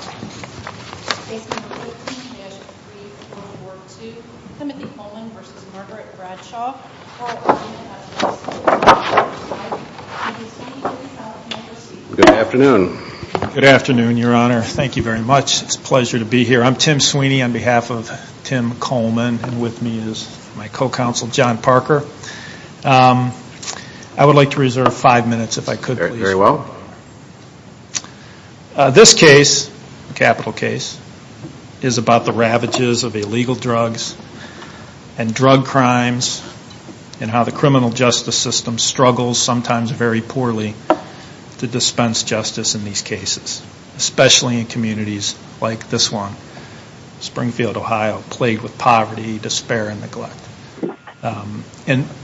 Good afternoon, your honor. Thank you very much. It's a pleasure to be here. I'm Tim Sweeney on behalf of Tim Coleman and with me is my co-counsel John Parker. I would like to reserve five minutes if I could, please. This case, capital case, is about the ravages of illegal drugs and drug crimes and how the criminal justice system struggles sometimes very poorly to dispense justice in these cases, especially in communities like this one, Springfield, Ohio, plagued with poverty, despair, and neglect.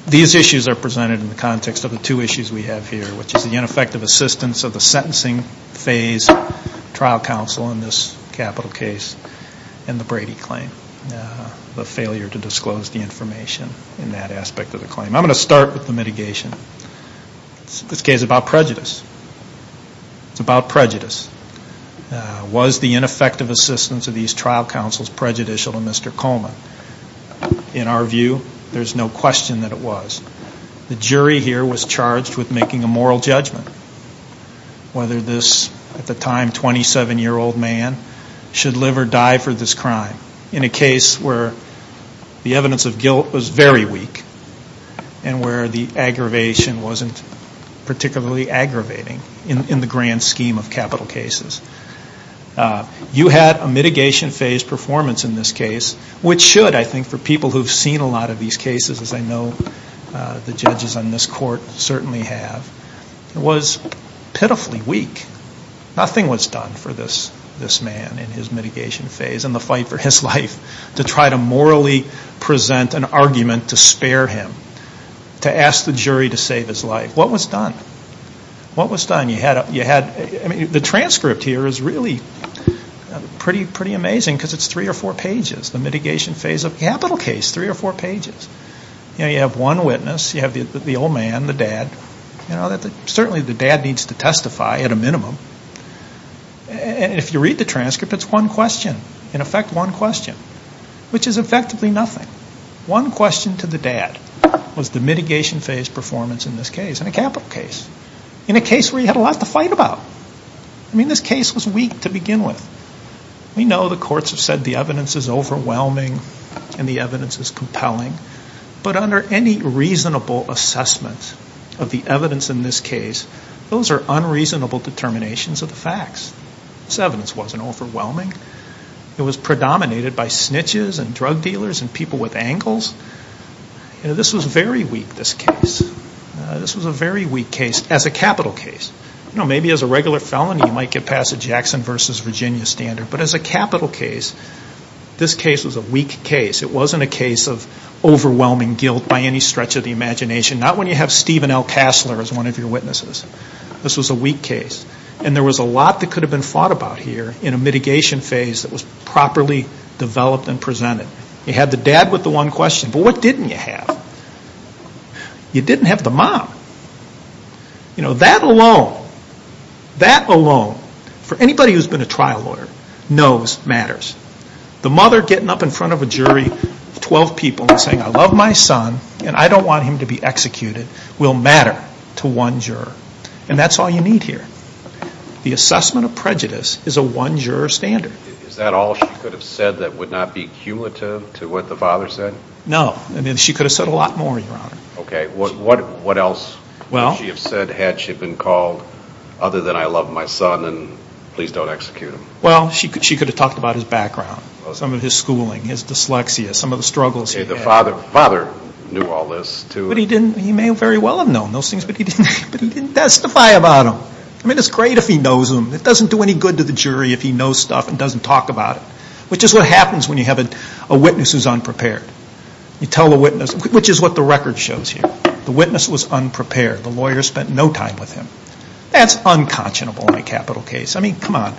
These issues are presented in the context of the two issues we have here, which is the ineffective assistance of the sentencing phase trial counsel in this capital case and the Brady claim, the failure to disclose the information in that aspect of the claim. I'm going to start with the mitigation. This case is about prejudice. It's about prejudice. Was the ineffective assistance of these trial counsels prejudicial to Mr. Coleman? In our view, there's no question that it was. The judge was charged with making a moral judgment whether this, at the time, 27-year-old man should live or die for this crime in a case where the evidence of guilt was very weak and where the aggravation wasn't particularly aggravating in the grand scheme of capital cases. You had a mitigation phase performance in this case, which should, I think, for people who have seen a lot of these cases, as I know the judges on this court certainly have, was pitifully weak. Nothing was done for this man in his mitigation phase and the fight for his life to try to morally present an argument to spare him, to ask the jury to save his life. What was done? What was done? You had, I mean, the transcript here is really amazing because it's three or four pages, the mitigation phase of a capital case, three or four pages. You have one witness. You have the old man, the dad. Certainly the dad needs to testify at a minimum. If you read the transcript, it's one question, in effect, one question, which is effectively nothing. One question to the dad was the mitigation phase performance in this case, in a capital case, in a case where you had a lot to fight about. I mean, this case was weak to begin with. We know the courts have said the evidence is overwhelming and the evidence is compelling, but under any reasonable assessment of the evidence in this case, those are unreasonable determinations of the facts. This evidence wasn't overwhelming. It was predominated by snitches and drug dealers and people with angles. You know, this was very weak, this case. This was a very weak case as a capital case. You know, maybe as a regular felony, you might get past the Jackson versus Virginia standard, but as a capital case, this case was a weak case. It wasn't a case of overwhelming guilt by any stretch of the imagination. Not when you have Stephen L. Cassler as one of your witnesses. This was a weak case. And there was a lot that could have been fought about here in a mitigation phase that was properly developed and presented. You had the dad with the one juror. That alone, for anybody who's been a trial lawyer, knows matters. The mother getting up in front of a jury of 12 people and saying, I love my son, and I don't want him to be executed, will matter to one juror. And that's all you need here. The assessment of prejudice is a one juror standard. Is that all she could have said that would not be cumulative to what the father said? No. I mean, she could have said a lot more, Your Honor, other than I love my son and please don't execute him. Well, she could have talked about his background, some of his schooling, his dyslexia, some of the struggles he had. The father knew all this, too. But he didn't. He may very well have known those things, but he didn't testify about them. I mean, it's great if he knows them. It doesn't do any good to the jury if he knows stuff and doesn't talk about it, which is what happens when you have a witness who's unprepared. You tell the witness, which is what the record shows here. The witness was unprepared. The lawyer spent no time with him. That's unconscionable in a capital case. I mean, come on.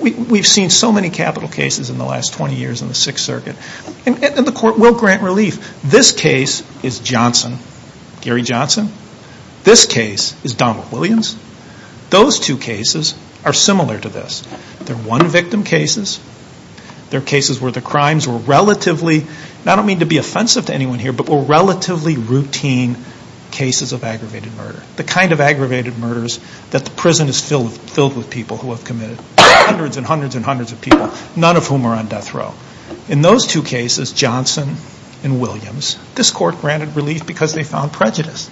We've seen so many capital cases in the last 20 years in the Sixth Circuit. And the court will grant relief. This case is Johnson, Gary Johnson. This case is Donald Williams. Those two cases are similar to this. They're one victim cases. They're cases where the crimes were relatively, and I don't mean to be offensive to anyone here, but were relatively routine cases of aggravated murder. The kind of aggravated murders that the prison is filled with people who have committed, hundreds and hundreds and hundreds of people, none of whom are on death row. In those two cases, Johnson and Williams, this court granted relief because they found prejudice.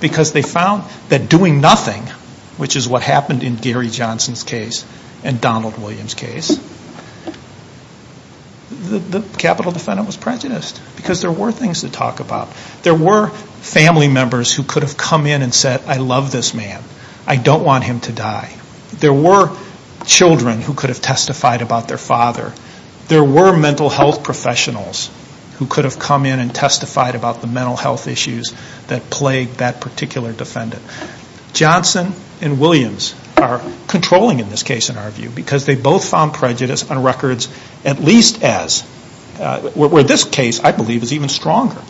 Because they found that doing nothing, which is what happened in Gary Johnson's case and Donald Williams' case, the capital defendant was prejudiced. Because there were things to talk about. There were family members who could have come in and said, I love this man. I don't want him to die. There were children who could have testified about their father. There were mental health professionals who could have come in and testified about the mental health issues that plagued that particular defendant. Johnson and Williams are controlling in this case, in our view, because they both found prejudice on records at least as, where this case, I believe, is even stronger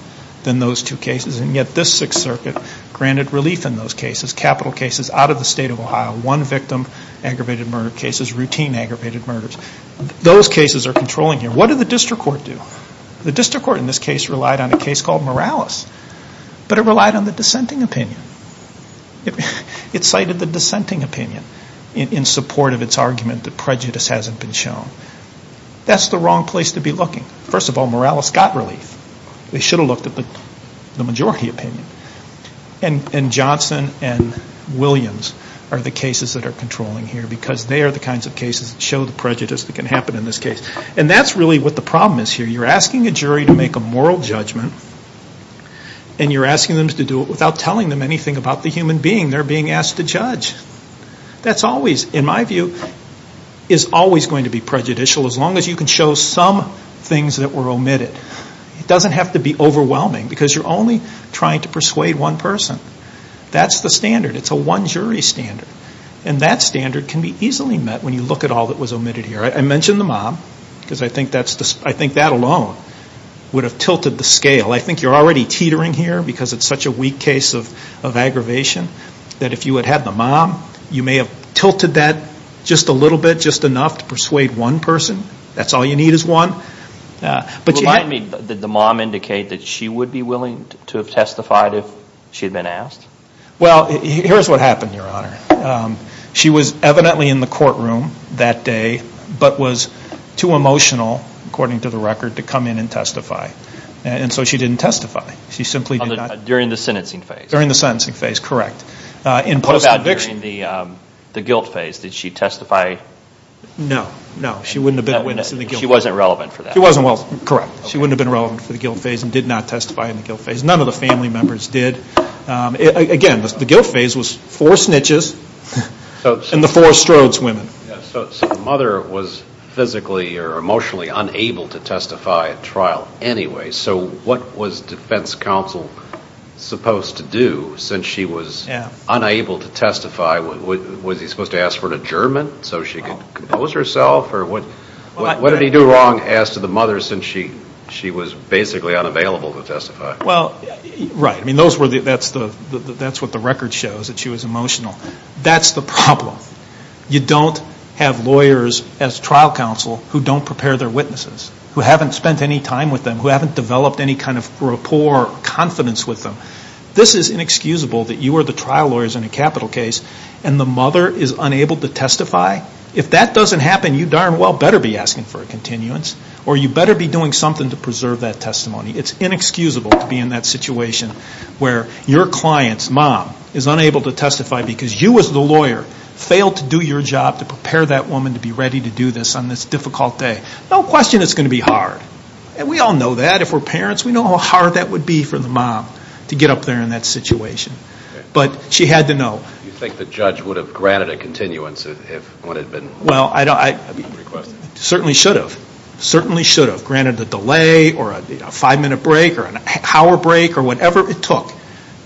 than those two cases. And yet this Sixth Circuit granted relief in those cases. Capital cases out of the state of Ohio. One victim aggravated murder cases. Routine aggravated murders. Those cases are controlling here. What did the district court do? The district court in this case relied on a case called Morales. But it relied on the dissenting opinion in support of its argument that prejudice hasn't been shown. That's the wrong place to be looking. First of all, Morales got relief. They should have looked at the majority opinion. And Johnson and Williams are the cases that are controlling here because they are the kinds of cases that show the prejudice that can happen in this case. And that's really what the problem is here. You're asking a jury to make a moral judgment and you're asking them to do it without telling them anything about the human being they're being asked to judge. That's always, in my view, is always going to be prejudicial as long as you can show some things that were omitted. It doesn't have to be overwhelming because you're only trying to persuade one person. That's the standard. It's a one jury standard. And that standard can be easily met when you look at all that was omitted here. I mentioned the mob because I think that alone would have tilted the scale. I think you're already teetering here because it's such a weak case of aggravation that if you had had the mob, you may have tilted that just a little bit, just enough to persuade one person. That's all you need is one. Remind me, did the mob indicate that she would be willing to have testified if she had been asked? Well, here's what happened, Your Honor. She was evidently in the courtroom that day but was too emotional, according to the record, to come in and testify. And she simply did not. During the sentencing phase? During the sentencing phase, correct. In post-conviction? What about during the guilt phase? Did she testify? No, no, she wouldn't have been in the guilt phase. She wasn't relevant for that? She wasn't relevant, correct. She wouldn't have been relevant for the guilt phase and did not testify in the guilt phase. None of the family members did. Again, the guilt phase was four snitches and the four Strodes women. So the mother was physically or emotionally unable to testify at trial anyway. So what was defense counsel supposed to do since she was unable to testify? Was he supposed to ask for an adjournment so she could compose herself? What did he do wrong, asked the mother, since she was basically unavailable to testify? Well, right, that's what the record shows, that she was emotional. That's the problem. You don't have any time with them, who haven't developed any kind of rapport or confidence with them. This is inexcusable that you are the trial lawyers in a capital case and the mother is unable to testify. If that doesn't happen, you darn well better be asking for a continuance or you better be doing something to preserve that testimony. It's inexcusable to be in that situation where your client's mom is unable to testify because you as the lawyer failed to do your job to prepare that woman to be ready to do this on this difficult day. No question it's going to be hard. We all know that. If we're parents, we know how hard that would be for the mom to get up there in that situation. But she had to know. Do you think the judge would have granted a continuance if it had been requested? Certainly should have. Certainly should have granted a delay or a five minute break or an hour break or whatever it took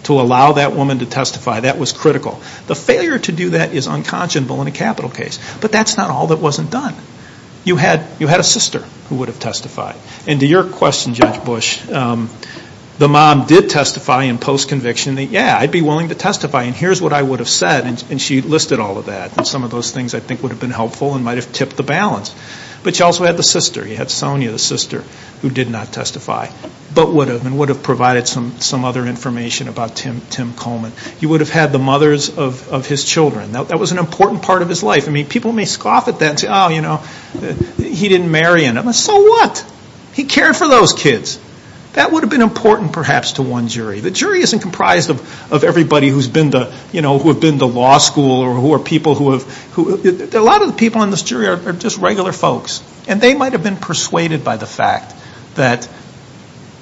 to allow that woman to testify. That was critical. The failure to do that is unconscionable in a capital case. But that's not all that wasn't done. You had a sister who would have testified. And to your question, Judge Bush, the mom did testify in post-conviction that, yeah, I'd be willing to testify. And here's what I would have said. And she listed all of that. And some of those things I think would have been helpful and might have tipped the balance. But you also had the sister. You had Sonia, the sister, who did not testify but would have. And would have provided some other information about Tim Coleman. You would have had the mothers of his children. That was an important part of his life. People may scoff at that and say, oh, he didn't marry. So what? He cared for those kids. That would have been important perhaps to one jury. The jury isn't comprised of everybody who's been to law school or who are people who have, a lot of the people in this jury are just regular folks. And they might have been persuaded by the fact that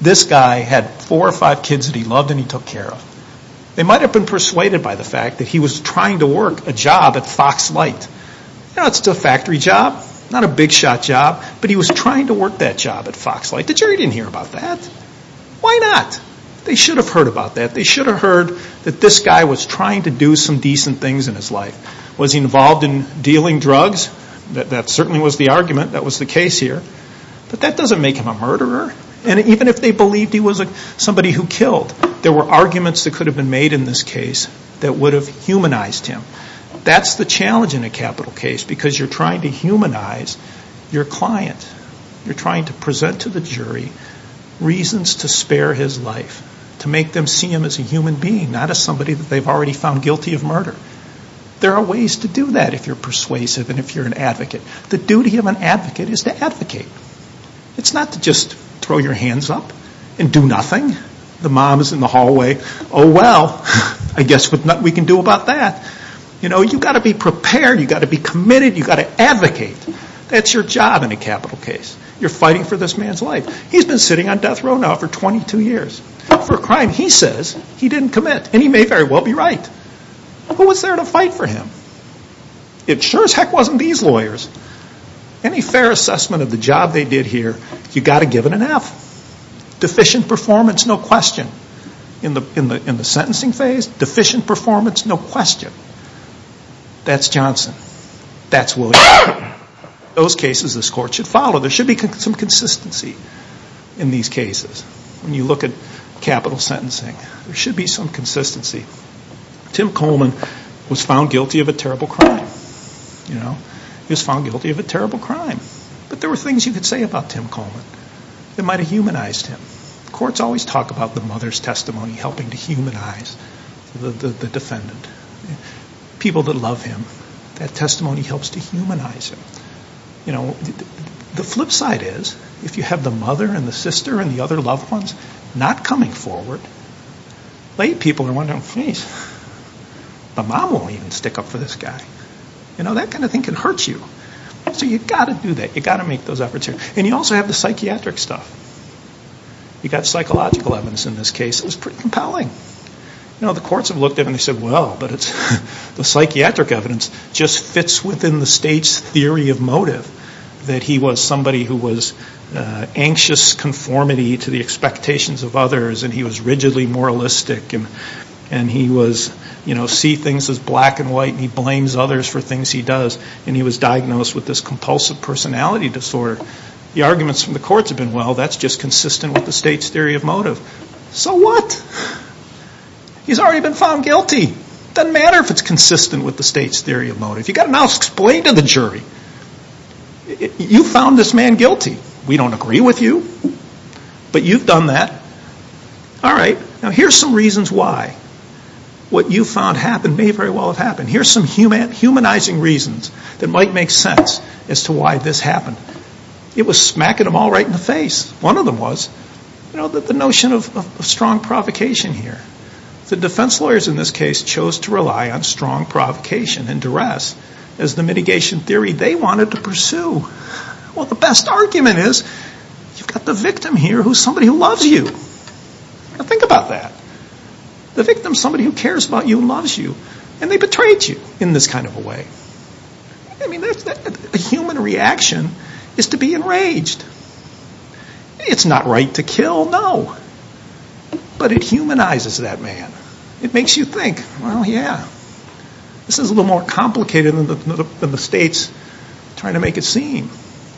this guy had four or five kids that he loved and he took care of. They might have been to work a job at Fox Light. It's a factory job. Not a big shot job. But he was trying to work that job at Fox Light. The jury didn't hear about that. Why not? They should have heard about that. They should have heard that this guy was trying to do some decent things in his life. Was he involved in dealing drugs? That certainly was the argument. That was the case here. But that doesn't make him a murderer. And even if they believed he was somebody who killed, there were arguments that could have been made in this case that would have humanized him. That's the challenge in a capital case because you're trying to humanize your client. You're trying to present to the jury reasons to spare his life. To make them see him as a human being, not as somebody that they've already found guilty of murder. There are ways to do that if you're persuasive and if you're an advocate. The duty of an advocate is to advocate. It's not to just throw your hands up and do nothing. The mom is in the hallway. Oh, well. I guess there's nothing we can do about that. You've got to be prepared. You've got to be committed. You've got to advocate. That's your job in a capital case. You're fighting for this man's life. He's been sitting on death row now for 22 years for a crime he says he didn't commit. And he may very well be right. Who was there to fight for him? It sure as heck wasn't these lawyers. Any fair assessment of the job they did, there's no question. In the sentencing phase, deficient performance, no question. That's Johnson. That's Wilson. Those cases this court should follow. There should be some consistency in these cases. When you look at capital sentencing, there should be some consistency. Tim Coleman was found guilty of a terrible crime. He was found guilty of a terrible crime. But there were things you could say about Tim Coleman that might have talked about the mother's testimony helping to humanize the defendant. People that love him, that testimony helps to humanize him. The flip side is if you have the mother and the sister and the other loved ones not coming forward, people are wondering, the mom won't even stick up for this guy. That kind of thing can hurt you. So you've got to do that. You've got to make those efforts. And you also have the psychiatric stuff. You've got psychological evidence in this case. It was pretty compelling. The courts have looked at it and said, well, the psychiatric evidence just fits within the state's theory of motive that he was somebody who was anxious conformity to the expectations of others and he was rigidly moralistic and he was, you know, see things as black and white and he blames others for things he does and he was diagnosed with this compulsive personality disorder. The arguments from the So what? He's already been found guilty. Doesn't matter if it's consistent with the state's theory of motive. You've got to now explain to the jury, you found this man guilty. We don't agree with you. But you've done that. All right. Now here's some reasons why what you found happened may very well have happened. Here's some humanizing reasons that might make sense as to why this happened. It was smacking them all right in the face. One of them was, you know, the notion of strong provocation here. The defense lawyers in this case chose to rely on strong provocation and duress as the mitigation theory they wanted to pursue. Well, the best argument is you've got the victim here who is somebody who loves you. Think about that. The victim is somebody who cares about you and loves you and they got right to kill. No. But it humanizes that man. It makes you think. Well, yeah. This is a little more complicated than the state's trying to make it seem.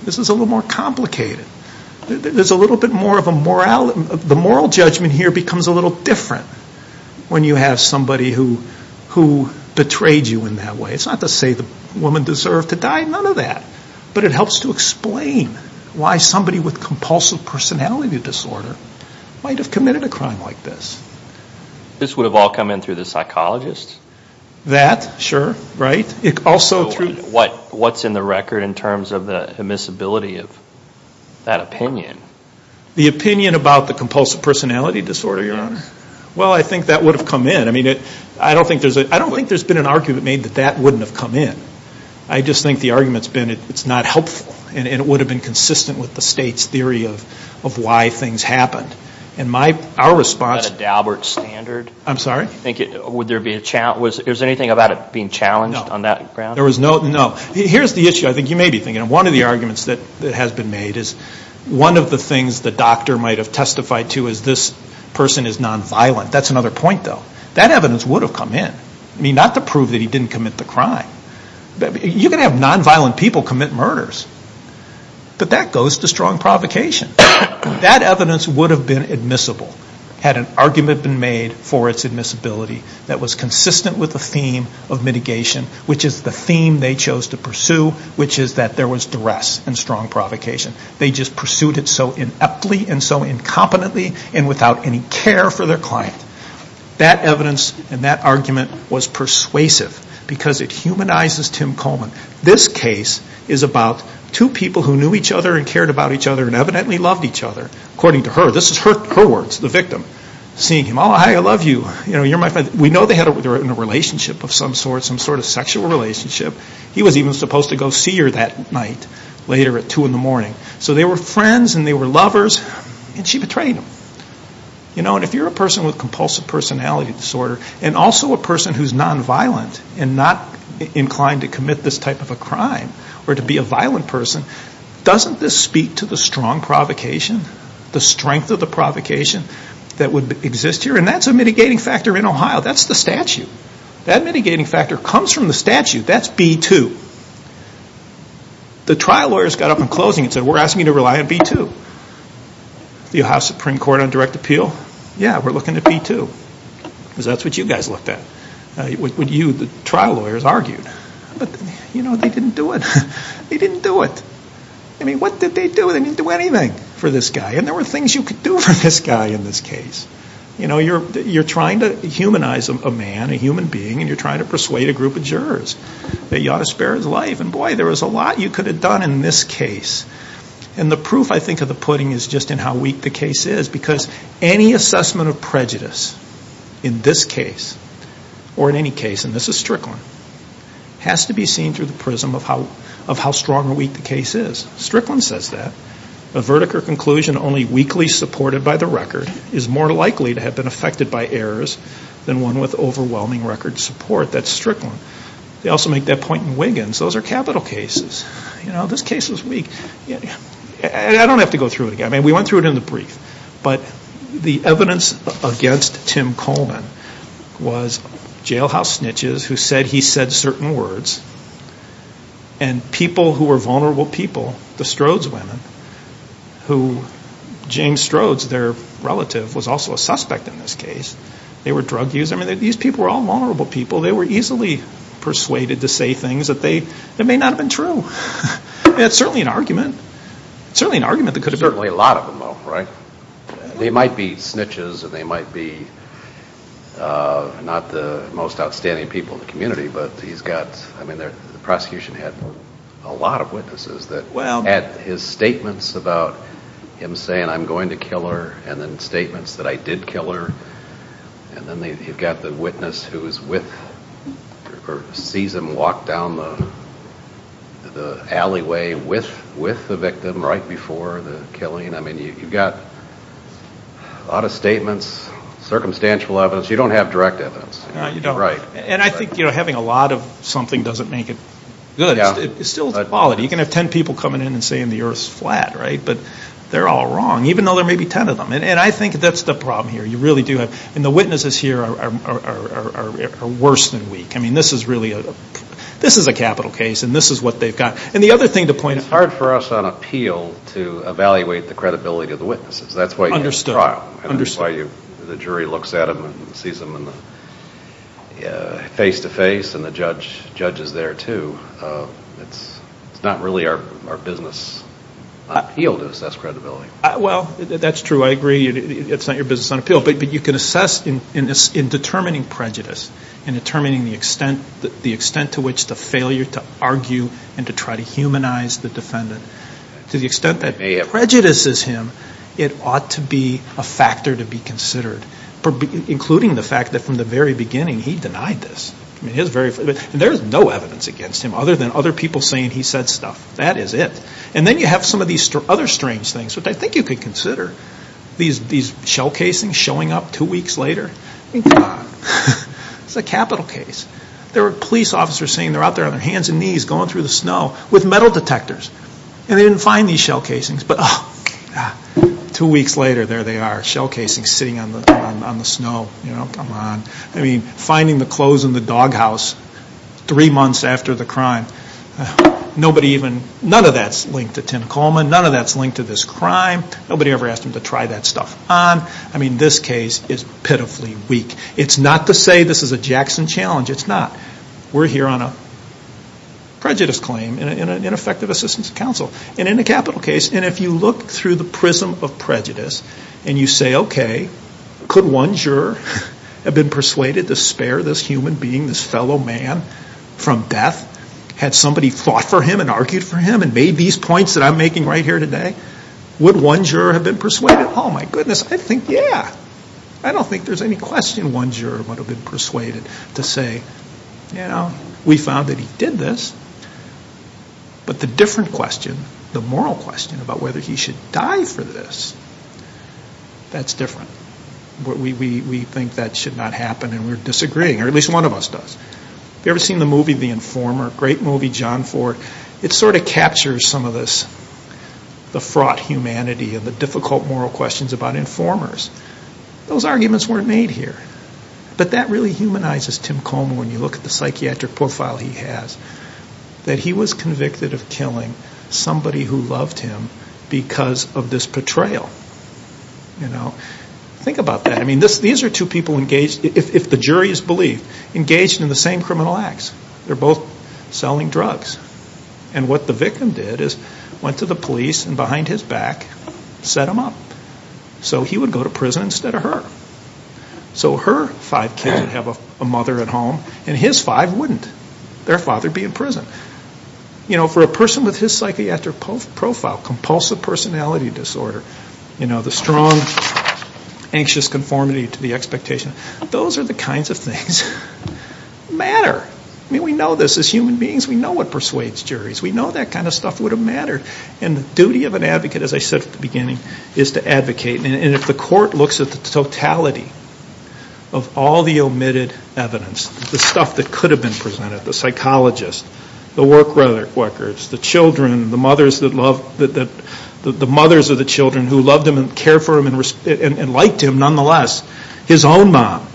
This is a little more complicated. There's a little bit more of a moral judgment here becomes a little different when you have somebody who betrayed you in that way. It's not to say the woman deserved to die. None of that. But it helps to explain why somebody with compulsive personality disorder might have committed a crime like this. This would have all come in through the psychologist? That, sure. Right? Also through... What's in the record in terms of the admissibility of that opinion? The opinion about the compulsive personality disorder, Your Honor. Well, I think that would have come in. I mean, I don't think there's been an argument made that that wouldn't have come in. I just think the argument's been it's not helpful. And it would have been consistent with the state's theory of why things happened. And my, our response... Is that a Daubert standard? I'm sorry? Would there be a challenge? Is there anything about it being challenged on that ground? There was no, no. Here's the issue. I think you may be thinking. One of the arguments that has been made is one of the things the doctor might have testified to is this person is nonviolent. That's another point, though. That evidence would have come in. I mean, not to prove that he didn't commit the crime. You can have nonviolent people commit murders. But that goes to strong provocation. That evidence would have been admissible had an argument been made for its admissibility that was consistent with the theme of mitigation, which is the theme they chose to pursue, which is that there was duress and strong provocation. They just pursued it so ineptly and so incompetently and without any care for their client. That evidence and that argument was persuasive because it humanizes Tim Coleman. This case is about two people who knew each other and cared about each other and evidently loved each other, according to her. This is her words, the victim, seeing him. Oh, hi, I love you. You're my friend. We know they were in a relationship of some sort, some sort of sexual relationship. He was even supposed to go see her that night later at two in the morning. So they were friends and they were lovers and she betrayed him. If you're a person with compulsive personality disorder and also a person who's nonviolent and not inclined to commit this type of a crime or to be a violent person, doesn't this speak to the strong provocation, the strength of the provocation that would exist here? And that's a mitigating factor in Ohio. That's the statute. That mitigating factor comes from the statute. That's B-2. The trial lawyers got up in closing and said, we're asking you to rely on B-2. The Ohio Supreme Court on direct appeal, yeah, we're looking at B-2. That's what you guys looked at, what you, the trial lawyers, argued. But they didn't do it. They didn't do it. I mean, what did they do? They didn't do anything for this guy. And there were things you could do for this guy in this case. You're trying to humanize a man, a human being, and you're trying to persuade a group of jurors that you ought to do this. The proof, I think, of the pudding is just in how weak the case is. Because any assessment of prejudice in this case or in any case, and this is Strickland, has to be seen through the prism of how strong or weak the case is. Strickland says that. A verdict or conclusion only weakly supported by the record is more likely to have been affected by errors than one with overwhelming record support. That's Strickland. They also make that point in Wiggins. Those are capital cases. This case is weak. I don't have to go through it again. We went through it in the brief. But the evidence against Tim Coleman was jailhouse snitches who said he said certain words. And people who were vulnerable people, the Strodes women, who James Strodes, their relative, was also a suspect in this case. They were drug users. These people were all vulnerable people. They were easily persuaded to say things that they may not have been true. It's certainly an argument. It's certainly an argument that could have been true. Certainly a lot of them, though, right? They might be snitches and they might be not the most outstanding people in the community, but he's got, I mean, the prosecution had a lot of witnesses that had his statements about him saying, I'm going to kill her, and then statements that I did kill her. And then you've got the witness who is with or sees him walk down the alleyway with the victim right before the killing. I mean, you've got a lot of statements, circumstantial evidence. You don't have direct evidence. No, you don't. And I think having a lot of something doesn't make it good. It's still a quality. You can have ten people coming in and saying the earth is flat, right? But they're all wrong, even though there may be ten of them. And I think that's the problem here. You really do have, and the witnesses here are worse than weak. I mean, this is really a, this is a capital case, and this is what they've got. And the other thing to point out. It's hard for us on appeal to evaluate the credibility of the witnesses. That's why you have the trial. Understood. That's why the jury looks at them and sees them face to face, and the judge is there too. It's not really our business on appeal to assess credibility. Well, that's true. I agree. It's not your business on appeal. But you can assess in determining prejudice, in determining the extent to which the failure to argue and to try to humanize the defendant, to the extent that it prejudices him, it ought to be a factor to be considered. Including the fact that from the very beginning, he denied this. And there's no evidence against him other than other people saying he said stuff. That is it. And then you have some of these other strange things, which I think you could consider. These shell casings showing up two weeks later. It's a capital case. There were police officers saying they're out there on their hands and knees going through the snow with metal detectors, and they didn't find these shell casings. But two weeks later, there they are, shell casings sitting on the snow. Come on. I mean, finding the clothes in the snow. None of that's linked to Tim Coleman. None of that's linked to this crime. Nobody ever asked him to try that stuff on. I mean, this case is pitifully weak. It's not to say this is a Jackson challenge. It's not. We're here on a prejudice claim and an ineffective assistance counsel. And in a capital case, and if you look through the prism of prejudice and you say, okay, could one juror have been persuaded to spare this human being, this points that I'm making right here today, would one juror have been persuaded? Oh, my goodness. I think, yeah. I don't think there's any question one juror would have been persuaded to say, you know, we found that he did this. But the different question, the moral question about whether he should die for this, that's different. We think that should not happen and we're disagreeing, or at least one of us does. Have you ever seen the movie The Informer? Great some of this, the fraught humanity and the difficult moral questions about informers. Those arguments weren't made here. But that really humanizes Tim Coleman when you look at the psychiatric profile he has, that he was convicted of killing somebody who loved him because of this portrayal. Think about that. I mean, these are two people engaged, if the jury is believed, engaged in the same criminal acts. They're both selling drugs. And what the victim did is went to the police and behind his back set him up. So he would go to prison instead of her. So her five kids would have a mother at home and his five wouldn't. Their father would be in prison. You know, for a person with his psychiatric profile, compulsive personality disorder, you know, the strong anxious conformity to the expectation, those are the kinds of things that matter. I mean, we know this as human beings. We know what persuades juries. We know that kind of stuff would have mattered. And the duty of an advocate, as I said at the beginning, is to advocate. And if the court looks at the totality of all the omitted evidence, the stuff that could have been presented, the psychologist, the work records, the children, the mothers that loved, the mothers of the moms,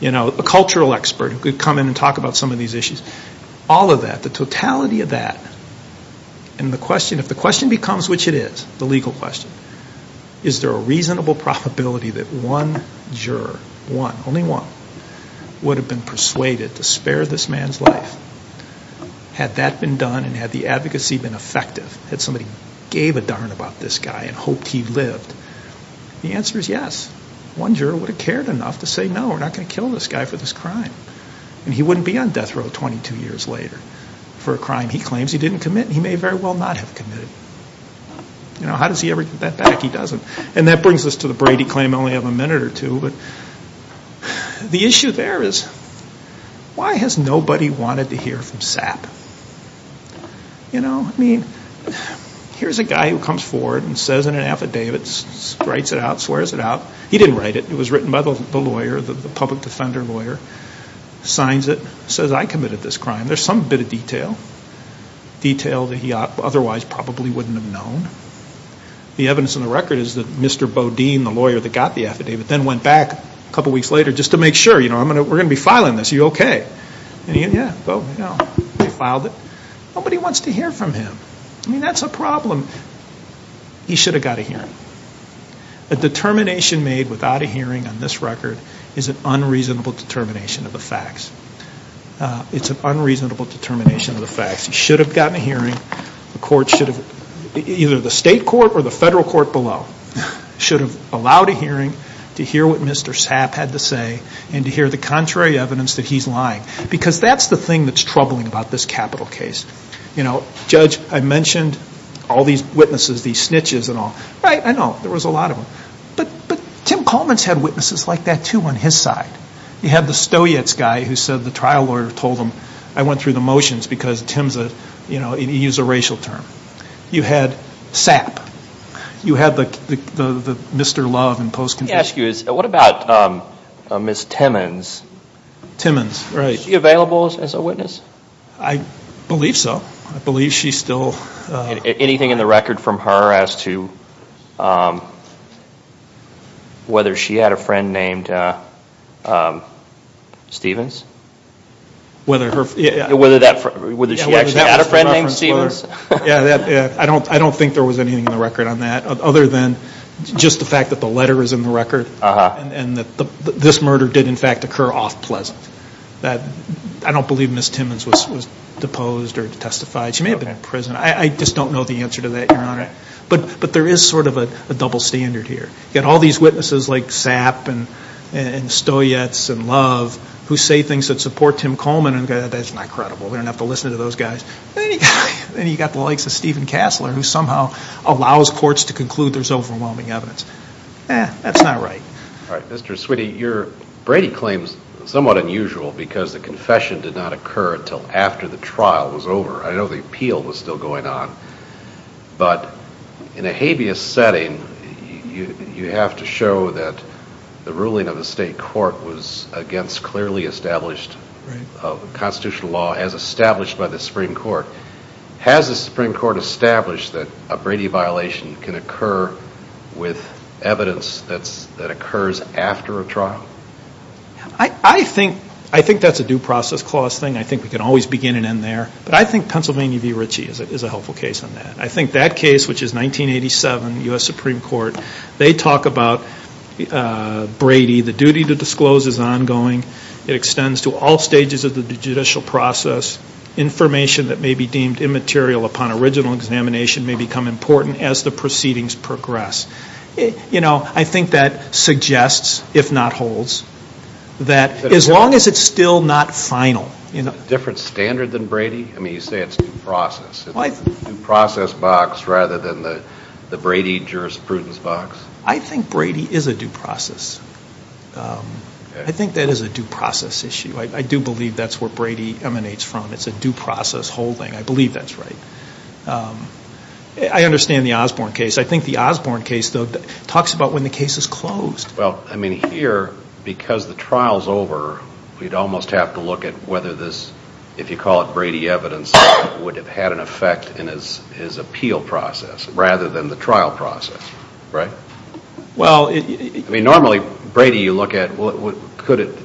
you know, a cultural expert who could come in and talk about some of these issues, all of that, the totality of that, and the question, if the question becomes, which it is, the legal question, is there a reasonable probability that one juror, one, only one, would have been persuaded to spare this man's life? Had that been done and had the advocacy been effective, had somebody gave a darn about this guy and hoped he lived, the answer is yes. One juror would have cared enough to say, no, we're not going to kill this guy for this crime. And he wouldn't be on death row 22 years later for a crime he claims he didn't commit and he may very well not have committed. You know, how does he ever get that back he doesn't? And that brings us to the Brady claim I only have a minute or two. The issue there is, why has nobody wanted to hear from SAP? You know, I mean, here's a guy who comes forward and says in an affidavit, writes it out, swears it out. He didn't write it. It was written by the lawyer, the public defender lawyer, signs it, says I committed this crime. There's some bit of detail, detail that he otherwise probably wouldn't have known. The evidence in the record is that Mr. Bodine, the lawyer that got the affidavit, then went back a couple of weeks later just to make sure, you know, we're going to be filing this. Is he okay? Yeah, he filed it. Nobody wants to hear from him. I mean, that's a problem. He should have gotten a hearing. A determination made without a hearing on this record is an unreasonable determination of the facts. It's an unreasonable determination of the facts. He should have gotten a hearing. The court should have, either the state court or the federal court below, should have allowed a hearing to hear what Mr. SAP had to say and to hear the contrary evidence that he's lying. Because that's the thing that's troubling about this capital case. You know, Judge, I mentioned all these witnesses, these snitches and all. Right? I know. There was a lot of them. But Tim Coleman's had witnesses like that too on his side. You had the Stoets guy who said the trial lawyer told him I went through the motions because Tim's a, you know, he used a racial term. You had SAP. You had the Mr. Love in post-conviction. Let me ask you, what about Ms. Timmons? Timmons, right. Is she available as a witness? I believe so. I believe she's still. Anything in the record from her as to whether she had a friend named Stevens? Whether that, whether she actually had a friend named Stevens? I don't think there was anything in the record on that other than just the fact that the letter is in the record and that this murder did in fact occur off pleasant. I don't believe Ms. Timmons was deposed or testified. She may have been in prison. I just don't know the answer to that, Your Honor. But there is sort of a double standard here. You've got all these witnesses like SAP and Stoets and Love who say things that support Tim Coleman. That's not credible. We don't have to listen to those guys. Then you've got the likes of Steven Kassler who somehow allows courts to conclude there's overwhelming evidence. Eh, that's not right. All right. Mr. Sweeney, Brady claims somewhat unusual because the confession did not occur until after the trial was over. I know the appeal was still going on. But in a habeas setting, you have to show that the ruling of the state court was against clearly established constitutional law as established by the Supreme Court. Has the Supreme Court established that a Brady violation can occur with evidence that occurs after a trial? I think that's a due process clause thing. I think we can always begin and end there. But I think Pennsylvania v. Ritchie is a helpful case on that. I think that case, which is 1987, U.S. Supreme Court, they talk about Brady. The duty to disclose is ongoing. It extends to all stages of the judicial process. Information that may be deemed immaterial upon original examination may become important as the proceedings progress. You know, I think that suggests, if not holds, that as long as it's still not final. Different standard than Brady? I mean, you say it's due process. It's a due process box rather than the Brady jurisprudence box? I think Brady is a due process. I think that is a due process issue. I do believe that's where Brady emanates from. It's a due process holding. I believe that's right. I understand the Osborne case. I think the Osborne case, though, talks about when the case is closed. Well, I mean, here, because the trial's over, we'd almost have to look at whether this, if you call it Brady evidence, would have had an effect in his appeal process rather than the trial process, right? Well, it... I mean, normally, Brady you look at, well, could it,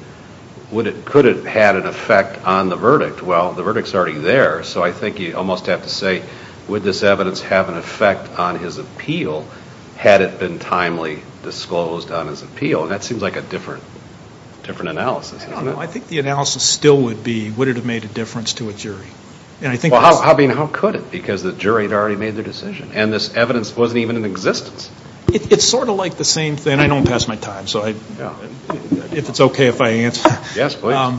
would it, could it have had an effect on the verdict? Well, the verdict's already there, so I think you'd almost have to say, would this evidence have an effect on his appeal had it been timely disclosed on his appeal? And that seems like a different, different analysis, isn't it? No, I think the analysis still would be, would it have made a difference to a jury? And I think... Well, I mean, how could it? Because the jury had already made their decision, and this evidence wasn't even in existence. It's sort of like the same thing, and I don't pass my time, so I, if it's okay if I answer. Yes, please.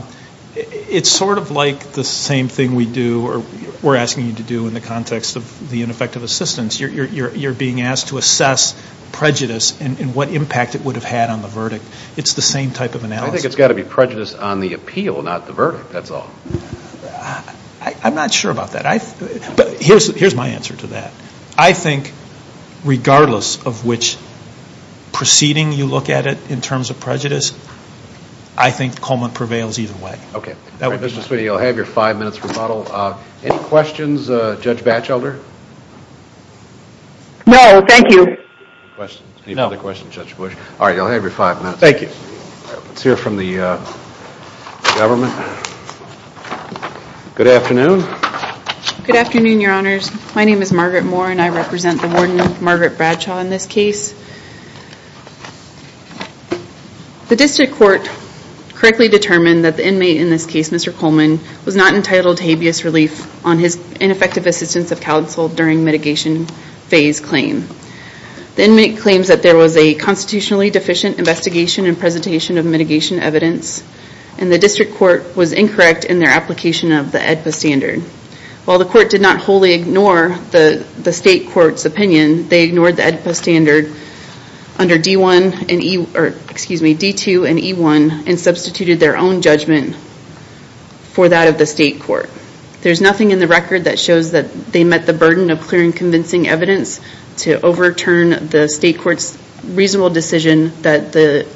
It's sort of like the same thing we do, or we're asking you to do in the context of the ineffective assistance. You're being asked to assess prejudice and what impact it would have had on the verdict. It's the same type of analysis. I think it's got to be prejudice on the appeal, not the verdict, that's all. I'm not sure about that. Here's my answer to that. I think regardless of which proceeding you look at it in terms of prejudice, I think Coleman prevails either way. Okay. Mr. Sweeney, you'll have your five minutes for rebuttal. Any questions, Judge Batchelder? No, thank you. Any other questions, Judge Batchelder? Government? Good afternoon. Good afternoon, Your Honors. My name is Margaret Moore, and I represent the warden, Margaret Bradshaw, in this case. The district court correctly determined that the inmate in this case, Mr. Coleman, was not entitled to habeas relief on his ineffective assistance of counsel during mitigation phase claim. The inmate claims that there was a constitutionally deficient investigation and presentation of mitigation evidence, and the district court was incorrect in their application of the AEDPA standard. While the court did not wholly ignore the state court's opinion, they ignored the AEDPA standard under D2 and E1 and substituted their own judgment for that of the state court. There's nothing in the record that shows that they met the burden of clear and convincing evidence to overturn the state court's reasonable decision that the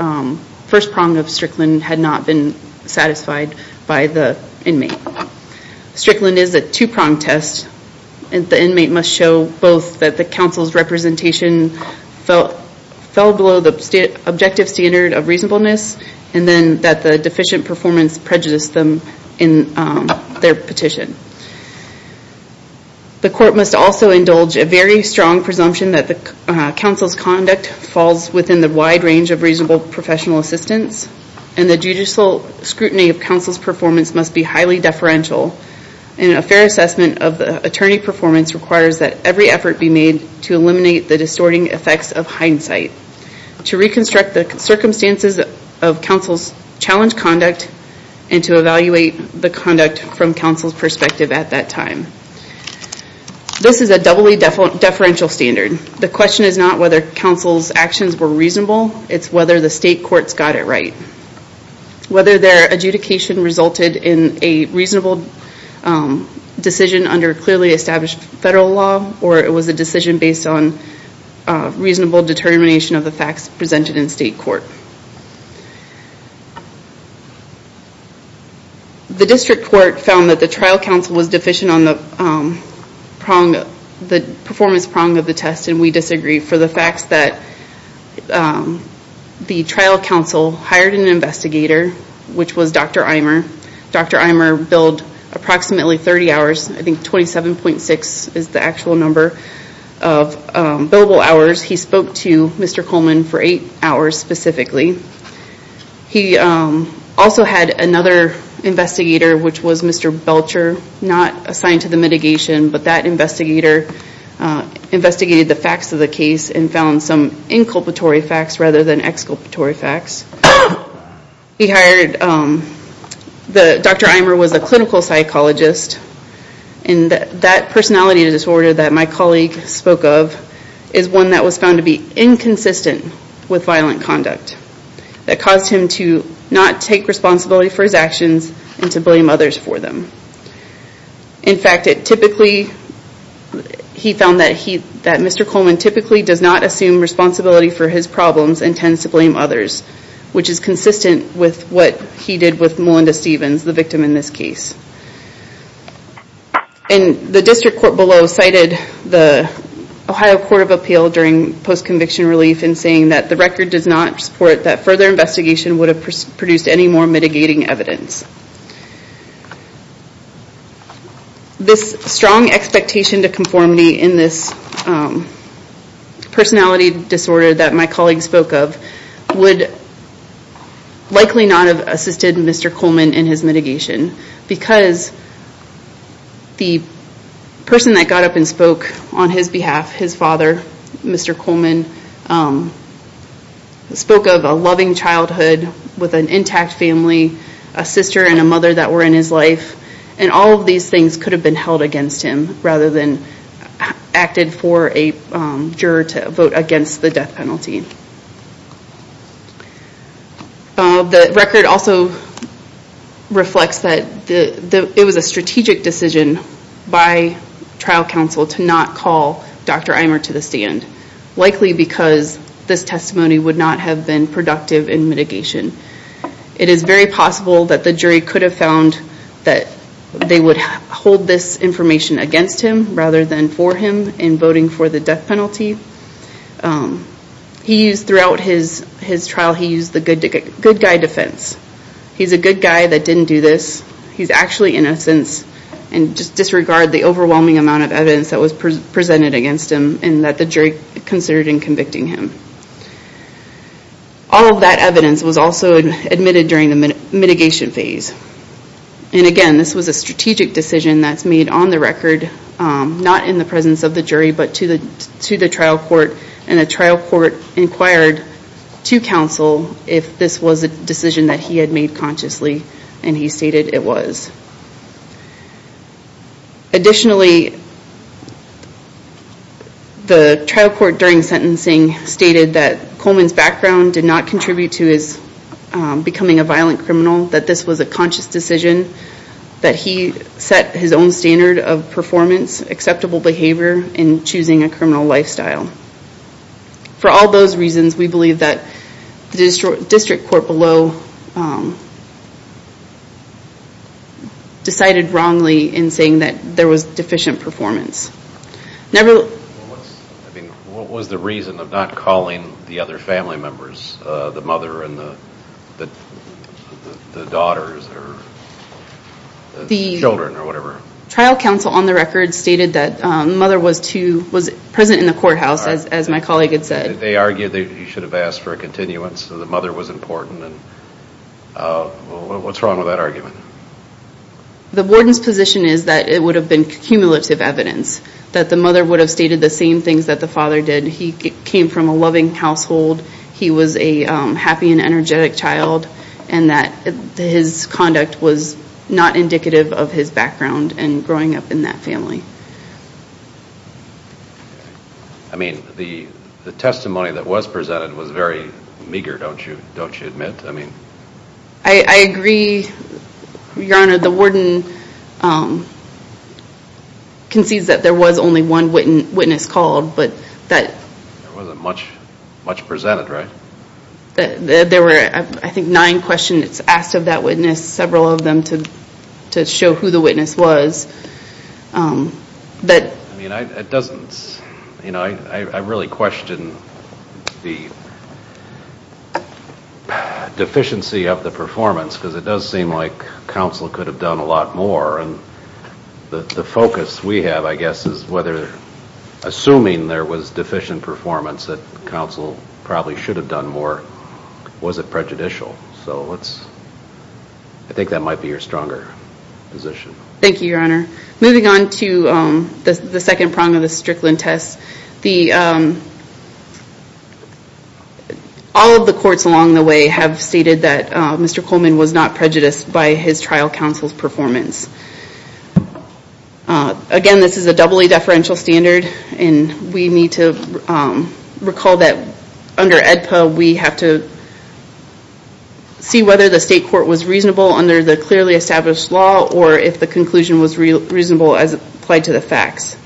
first prong of Strickland had not been satisfied by the inmate. Strickland is a two-prong test, and the inmate must show both that the counsel's representation fell below the objective standard of reasonableness, and then that the deficient performance prejudiced them in their petition. The court must also have a strong presumption that the counsel's conduct falls within the wide range of reasonable professional assistance, and the judicial scrutiny of counsel's performance must be highly deferential, and a fair assessment of the attorney performance requires that every effort be made to eliminate the distorting effects of hindsight, to reconstruct the circumstances of counsel's challenged conduct, and to evaluate the conduct from counsel's perspective at that time. This is a doubly deferential standard. The question is not whether counsel's actions were reasonable, it's whether the state courts got it right. Whether their adjudication resulted in a reasonable decision under clearly established federal law, or it was a decision based on reasonable determination of the facts presented in state court. The district court found that the trial counsel was deficient on the performance prong of the test, and we disagree for the fact that the trial counsel hired an investigator, which was Dr. Eimer. Dr. Eimer billed approximately 30 hours, I think 27.6 is the actual number of billable hours. He spoke to Mr. Coleman for 8 hours specifically. He also had another investigator which was Mr. Belcher, not assigned to the mitigation, but that investigator investigated the facts of the case and found some inculpatory facts rather than exculpatory facts. Dr. Eimer was a clinical psychologist, and that personality disorder that my colleague spoke of is one that was found to be inconsistent with violent conduct. That caused him to not take responsibility for his actions and to blame others for them. In fact, he found that Mr. Coleman typically does not assume responsibility for his problems and tends to blame others, which is consistent with what he did with Melinda Stevens, the victim in this case. The district court below cited the Ohio Court of Appeal during post-conviction relief in saying that the record does not support that further investigation would have produced any more mitigating evidence. This strong expectation to conformity in this personality disorder that my colleague spoke of would likely not have assisted Mr. Coleman in his mitigation because the person that got up and spoke on his behalf, his father, Mr. Coleman, spoke of a loving childhood with an intact family, a sister and a mother that were in his life. All of these things could have been held against him rather than acted for a juror to vote against the death penalty. The record also reflects that it was a strategic decision by trial counsel to not call Dr. Eimer to the stand, likely because this testimony would not have been productive in mitigation. It is very possible that the jury could have found that they would hold this information against him rather than for him in voting for the death penalty. Throughout his trial, he used the good guy defense. He's a good guy that didn't do this. He's actually in a sense disregard the overwhelming amount of evidence that was presented against him and that the jury considered in convicting him. All of that evidence was also admitted during the mitigation phase. Again, this was a strategic decision that's made on the record, not in the presence of the jury, but to the trial court. The trial court inquired to counsel if this was a decision that he had made consciously and he stated it was. Additionally, the trial court during sentencing stated that Coleman's background did not contribute to his becoming a violent criminal, that this was a conscious decision, that he set his own standard of performance, acceptable behavior in choosing a criminal lifestyle. For all those reasons, we believe that the district court below decided wrongly in saying that there was deficient performance. What was the reason of not calling the other family members, the mother and the daughters or children or whatever? Trial counsel on the record stated that the mother was present in the courthouse, as my colleague had said. They argued that you should have asked for a continuance. The mother was important. What's wrong with that argument? The warden's position is that it would have been cumulative evidence, that the mother would have stated the same things that the father did. He came from a loving household. He was a happy and energetic child and that his conduct was not indicative of his background and growing up in that family. I mean, the testimony that was presented was very meager, don't you admit? I agree, your honor. The warden concedes that there was only one witness called, but that There wasn't much presented, right? There were, I think, nine questions asked of that witness, several of them to show who the witness was. I really question the deficiency of the performance, because it does seem like counsel could have done a lot more. The focus we have, I guess, is whether assuming there was deficient performance that counsel probably should have done more, was it prejudicial? I think that might be a stronger position. Thank you, your honor. Moving on to the second prong of the Strickland test. All of the courts along the way have stated that Mr. Coleman was not prejudiced by his trial counsel's performance. Again, this is a doubly deferential standard and we need to recall that under the state court was reasonable under the clearly established law or if the conclusion was reasonable as applied to the facts.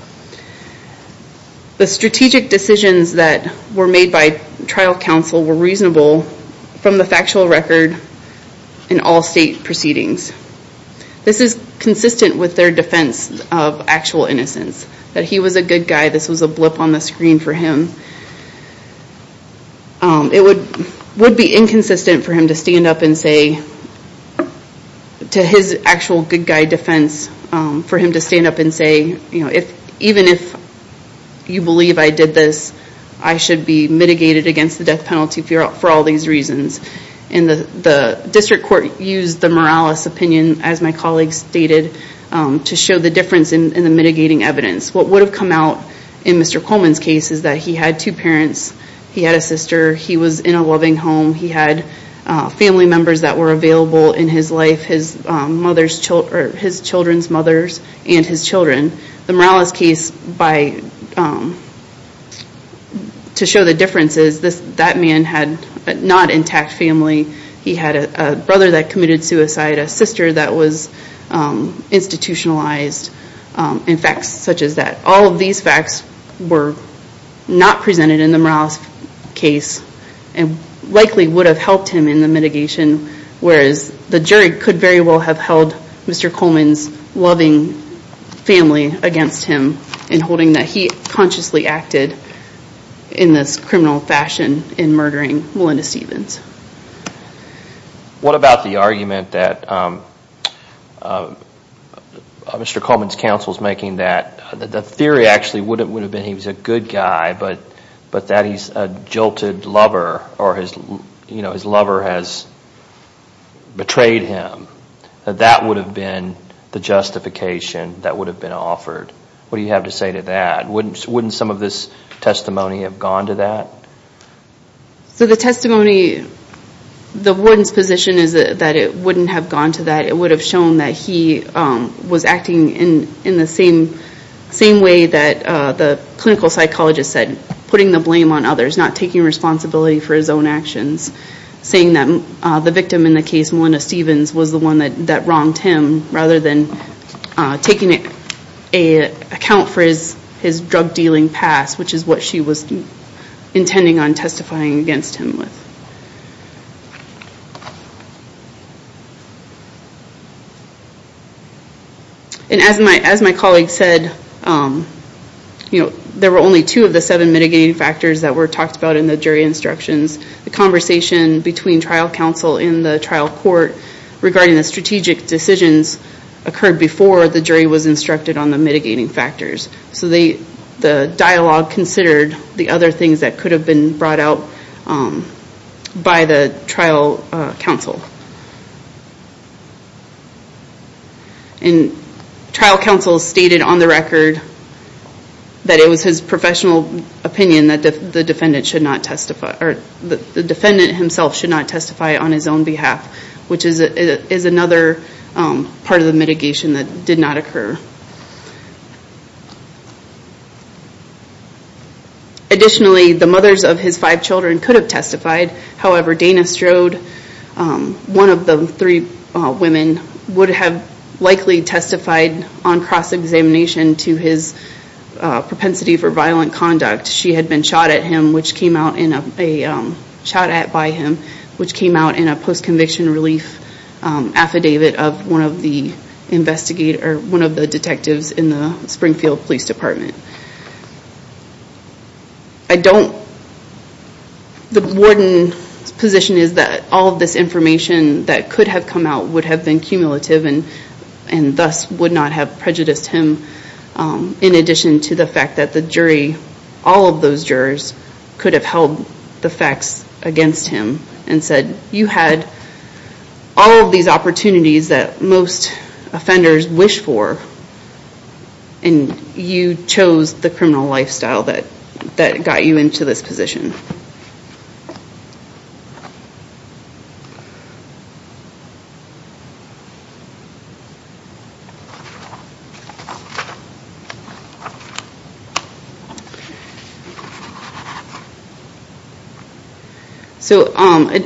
The strategic decisions that were made by trial counsel were reasonable from the factual record in all state proceedings. This is consistent with their defense of actual innocence, that he was a good guy, this was a blip on the screen for him. It would be inconsistent for him to stand up and say, to his actual good guy defense, for him to stand up and say, even if you believe I did this, I should be mitigated against the death penalty for all these reasons. The district court used the Morales opinion, as my colleague stated, to show the difference in the mitigating evidence. What would have come out in Mr. Coleman's case is that he had two parents, he had a sister, he was in a loving home, he had family members that were available in his life, his children's mothers and his children. The Morales case to show the differences, that man had a not intact family, he had a brother that committed suicide, a sister that was institutionalized, and facts such as that. All of these facts were not presented in the Morales case and likely would have helped him in the mitigation, whereas the jury could very well have held Mr. Coleman's loving family against him in holding that he consciously acted in this criminal fashion in murdering Melinda Stevens. What about the argument that Mr. Coleman's counsel is making that the theory actually would have been he was a good guy, but that he's a jilted lover or his lover has betrayed him. That would have been the justification that would have been offered. What do you have to say to that? Wouldn't some of this testimony have gone to that? The testimony, the warden's position is that it wouldn't have gone to that. It would have shown that he was acting in the same way that the clinical psychologist said, putting the blame on others, not taking responsibility for his own actions. Saying that the victim in the case, Melinda Stevens, was the one that wronged him, rather than taking account for his drug dealing past, which is what she was intending on testifying against him with. As my colleague said, there were only two of the seven mitigating factors that were talked about in the jury instructions. The conversation between trial counsel and the trial court regarding the strategic decisions occurred before the jury was instructed on the mitigating factors. The dialogue considered the other things that could have been brought out by the trial counsel. Trial counsel stated on the record that it was his professional opinion that the defendant himself should not testify on his own behalf, which is another part of the mitigation that did not occur. Additionally, the mothers of his five children could have testified. However, Dana Strode, one of the three women, would have likely testified on cross-examination to his propensity for violent conduct. She had been shot at him, which came out in a post-conviction relief affidavit of one of the detectives in the warden's position is that all of this information that could have come out would have been cumulative and thus would not have prejudiced him, in addition to the fact that the jury, all of those jurors, could have held the facts against him and said, you had all of these opportunities that most offenders wish for and you chose the criminal lifestyle that got you into this situation. So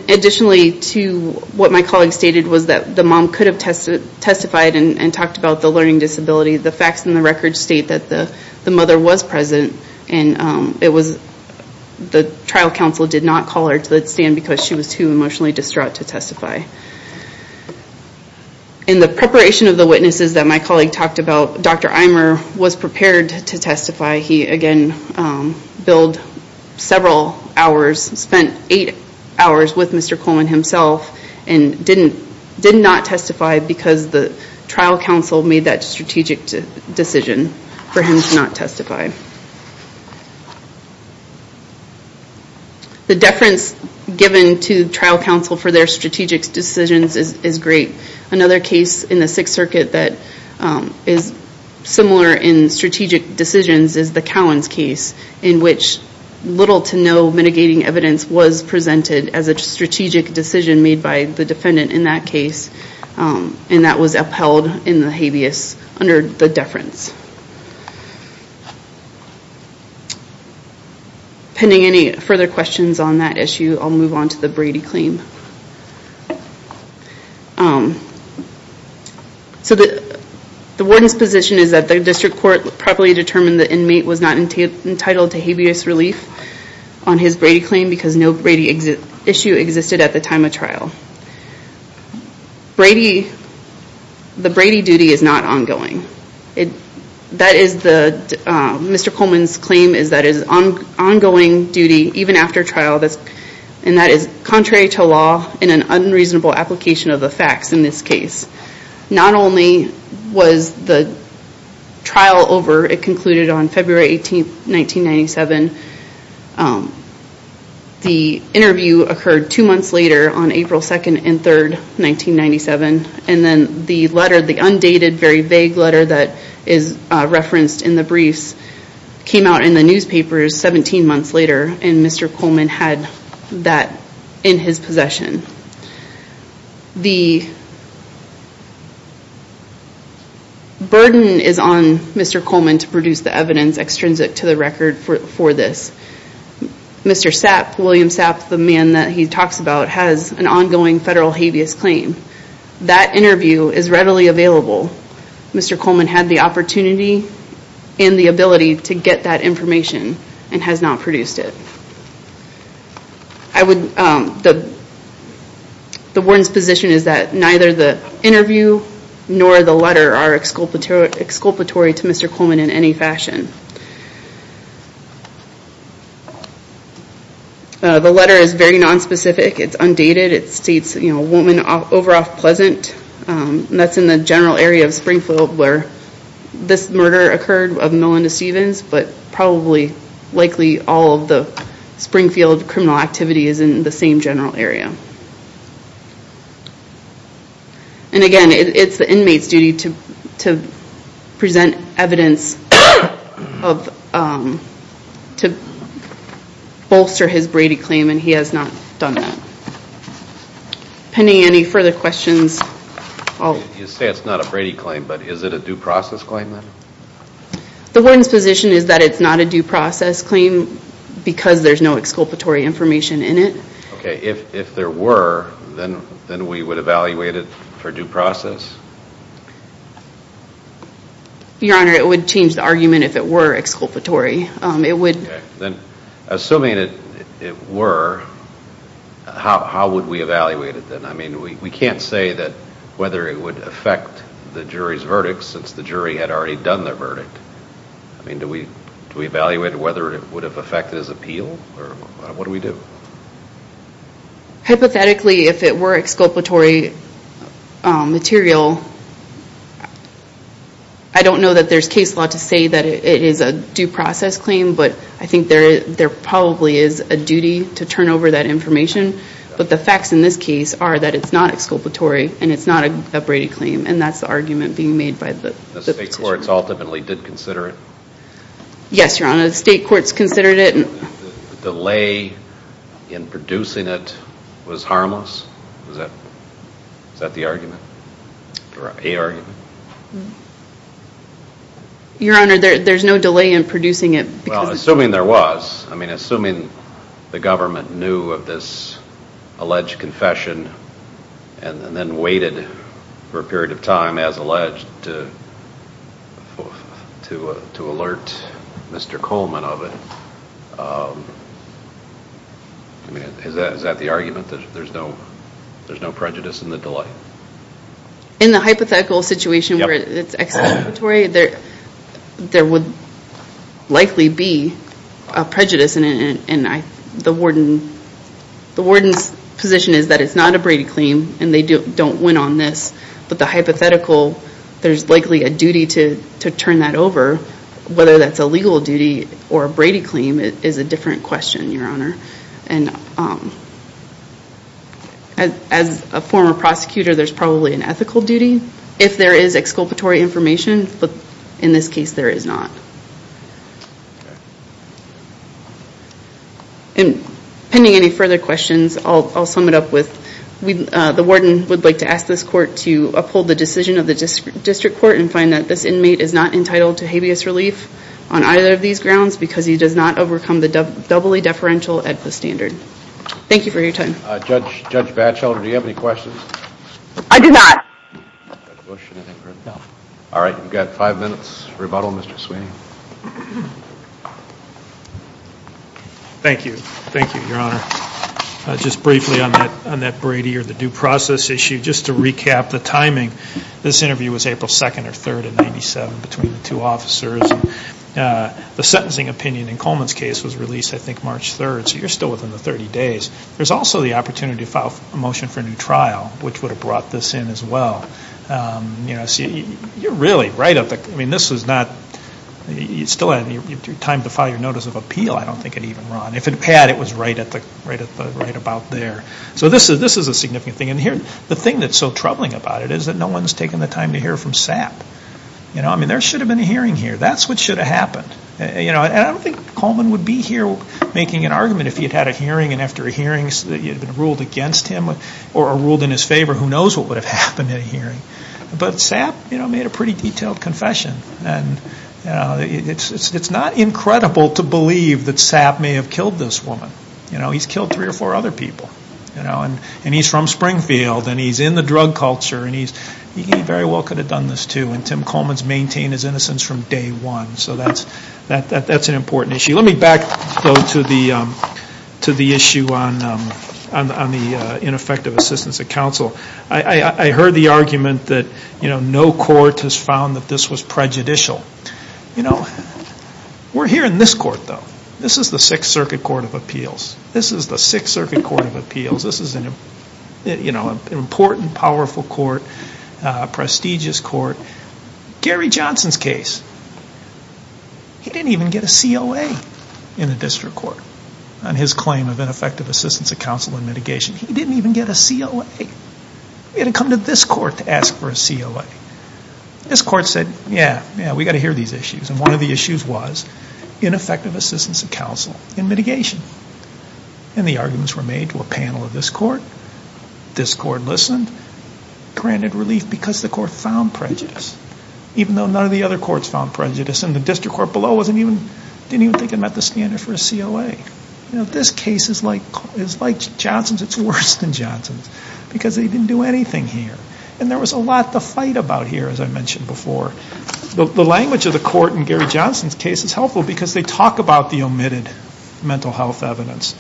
additionally to what my colleague stated was that the mom could have testified and talked about the learning disability, the facts in the record state that the mother was present and the trial counsel did not call her to the stand because she was too emotionally distraught to testify. In the preparation of the witnesses that my colleague talked about, Dr. Eimer was prepared to testify. He again billed several hours, spent eight hours with Mr. Coleman himself and did not testify because the trial counsel made that strategic decision for him to not testify. The deference given to trial counsel for their strategic decisions is great. Another case in the Sixth Circuit that is similar in strategic decisions is the Cowens case in which little to no mitigating evidence was presented as a strategic decision made by the defendant in that case and that was upheld in the habeas under the deference. Pending any further questions on that issue, I'll move on to the Brady claim. So the warden's position is that the district court properly determined that the inmate was not entitled to habeas relief on his Brady claim because no Brady issue existed at the time of trial. The Brady duty is not ongoing. Mr. Coleman's claim is that it is ongoing duty even after trial and that is contrary to law and an unreasonable application of the facts in this case. Not only was the trial over, it concluded on February 18, 1997. The verdict on April 2nd and 3rd, 1997 and then the letter, the undated, very vague letter that is referenced in the briefs came out in the newspapers 17 months later and Mr. Coleman had that in his possession. The burden is on Mr. Coleman to produce the evidence extrinsic to the record for this. Mr. Sapp, William Sapp, the man that he talks about has an ongoing federal habeas claim. That interview is readily available. Mr. Coleman had the opportunity and the ability to get that information and has not produced it. The warden's position is that neither the interview nor the letter are exculpatory to Mr. Coleman in any fashion. The letter is very nonspecific. It is not undated. It states a woman over off Pleasant. That is in the general area of Springfield where this murder occurred of Melinda Stevens but probably likely all of the Springfield criminal activity is in the same general area. Again, it is the inmate's duty to present evidence to bolster his Brady claim and he has not done that. You say it is not a Brady claim but is it a due process claim? The warden's position is that it is not a due process claim because there is no exculpatory information in it. If there were then we would evaluate it for due process? Your Honor, it would change the argument if it were. How would we evaluate it then? We can't say whether it would affect the jury's verdict since the jury had already done their verdict. Do we evaluate whether it would have affected his appeal? What do we do? Hypothetically, if it were exculpatory material, I don't know that there is case law to say that it is a due process claim but I think there probably is a duty to turn over that information but the facts in this case are that it is not exculpatory and it is not a Brady claim and that is the argument being made by the position. The state courts ultimately did consider it? Yes, Your Honor, the state courts considered it. Delay in producing it was harmless? Is that the argument? Your Honor, there is no delay in producing it. Assuming there was, assuming the government knew of this alleged confession and then waited for a period of time as alleged to alert Mr. Coleman of it, is that the argument that there in the hypothetical situation where it is exculpatory, there would likely be a prejudice and the warden's position is that it is not a Brady claim and they don't win on this but the hypothetical, there is likely a duty to turn that over whether that is a legal duty or a Brady claim is a different question, Your Honor. As a former prosecutor, there is a duty if there is exculpatory information but in this case there is not. And pending any further questions, I'll sum it up with the warden would like to ask this court to uphold the decision of the district court and find that this inmate is not entitled to habeas relief on either of these grounds because he does not overcome the doubly deferential AEDPA standard. Thank you for your time. Judge Batchelder, do you have any questions? I do not. All right, we've got five minutes rebuttal, Mr. Sweeney. Thank you. Thank you, Your Honor. Just briefly on that Brady or the due process issue, just to recap the timing, this interview was April 2nd or 3rd in 97 between the two officers. The sentencing opinion in Coleman's case was released I think March 3rd, so you're still within the 30 days. There's also the opportunity to file a motion for a new trial, which would have brought this in as well. You're really right up there. I mean, this is not, you still have time to file your notice of appeal. I don't think it even ran. If it had, it was right about there. So this is a significant thing. And the thing that's so troubling about it is that no one has taken the time to hear from SAP. I mean, there should have been a hearing here. That's what should have happened. And I don't think Coleman would be here making an argument if he had had a hearing and after a hearing it had been ruled against him or ruled in his favor. Who knows what would have happened at a hearing. But SAP made a pretty detailed confession. It's not incredible to believe that SAP may have killed this woman. He's killed three or four other people. And he's from Springfield and he's in the drug culture and he very well could have done this too. And Tim Coleman's maintained his innocence from day one. So that's an important issue. Let me back though to the issue on the ineffective assistance of counsel. I heard the argument that no court has found that this was prejudicial. We're here in this court though. This is the Sixth Circuit Court of Appeals. This is an important, powerful court, a prestigious court. Gary Johnson's case, he didn't even get a COA in the district court on his claim of ineffective assistance of counsel and mitigation. He didn't even get a COA. He had to come to this court to ask for a COA. This court said, yeah, we've got to hear these issues. And one of the issues was ineffective assistance of counsel and mitigation. And the arguments were made to a panel of this court. This court listened, granted relief because the court found prejudice, even though none of the other courts found prejudice. And the district court below didn't even think it met the standard for a COA. This case is like Johnson's. It's worse than Johnson's because they didn't do anything here. And there was a lot to fight about here, as I mentioned before. The language of the court in Gary Johnson's case is helpful because they talk about the omitted mental health evidence,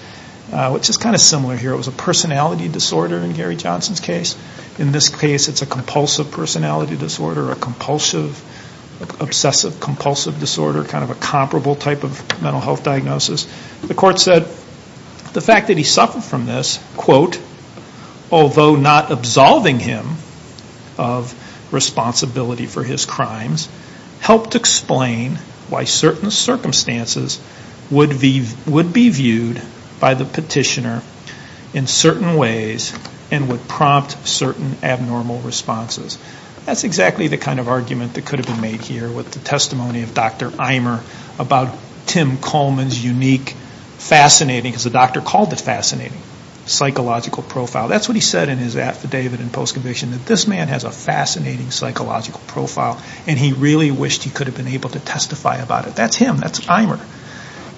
which is kind of similar here. It was a personality disorder in Gary Johnson's case. In this case, it's a compulsive personality disorder, a compulsive, obsessive compulsive disorder, kind of a comparable type of mental health diagnosis. The court said the fact that he suffered from this, quote, although not absolving him of responsibility for his crimes, helped explain why certain circumstances would be viewed by the petitioner in certain ways and would prompt certain abnormal responses. That's exactly the kind of argument that could have been made here with the testimony of Dr. Imer about Tim Coleman's unique, fascinating because the doctor called it fascinating, psychological profile. That's what he said in his affidavit and post-conviction, that this man has a fascinating, psychological profile and he really wished he could have been able to testify about it. That's him. That's Imer.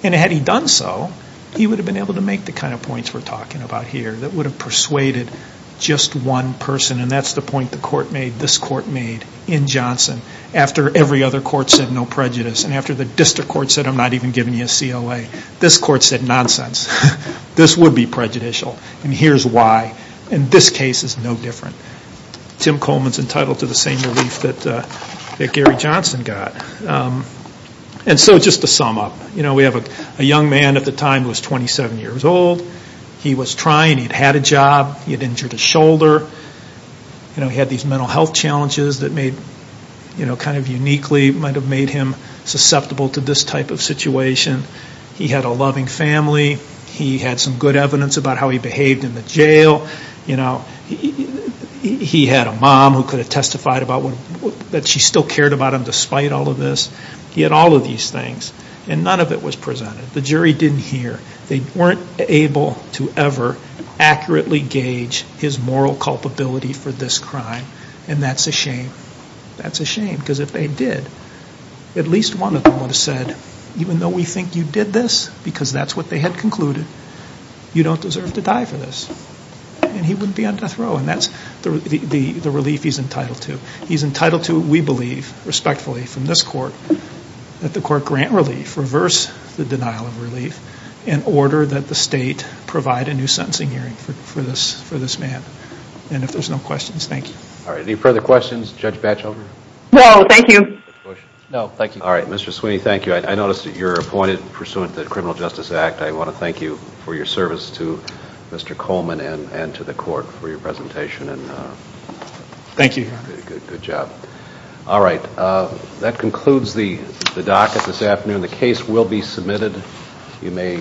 And had he done so, he would have been able to make the kind of points we're talking about here that would have persuaded just one person. And that's the point the court made, this court made in Johnson. After every other court said no prejudice and after the district court said I'm not even giving you a COA, this court said nonsense. This would be prejudicial and here's why. And this case is no different. Tim Coleman's entitled to the same relief that Gary Johnson got. And so just to sum up, we have a young man at the time who was 27 years old. He was trying. He'd had a job. He'd injured his shoulder. He had these mental health challenges that made, kind of uniquely, might have made him some good evidence about how he behaved in the jail. He had a mom who could have testified about that she still cared about him despite all of this. He had all of these things and none of it was presented. The jury didn't hear. They weren't able to ever accurately gauge his moral culpability for this crime and that's a shame. That's a shame because if they did, at least one of them would have said, even though we think you did this because that's what they had concluded, you don't deserve to die for this. And he wouldn't be on death row and that's the relief he's entitled to. He's entitled to, we believe, respectfully from this court, that the court grant relief, reverse the denial of relief, in order that the state provide a new sentencing hearing for this man. And if there's no questions, thank you. Alright, any further questions? Judge Batchelder? No, thank you. Alright, Mr. Sweeney, thank you. I noticed that you're appointed pursuant to criminal justice act. I want to thank you for your service to Mr. Coleman and to the court for your presentation. Thank you. Good job. Alright, that concludes the docket this afternoon. The case will be submitted.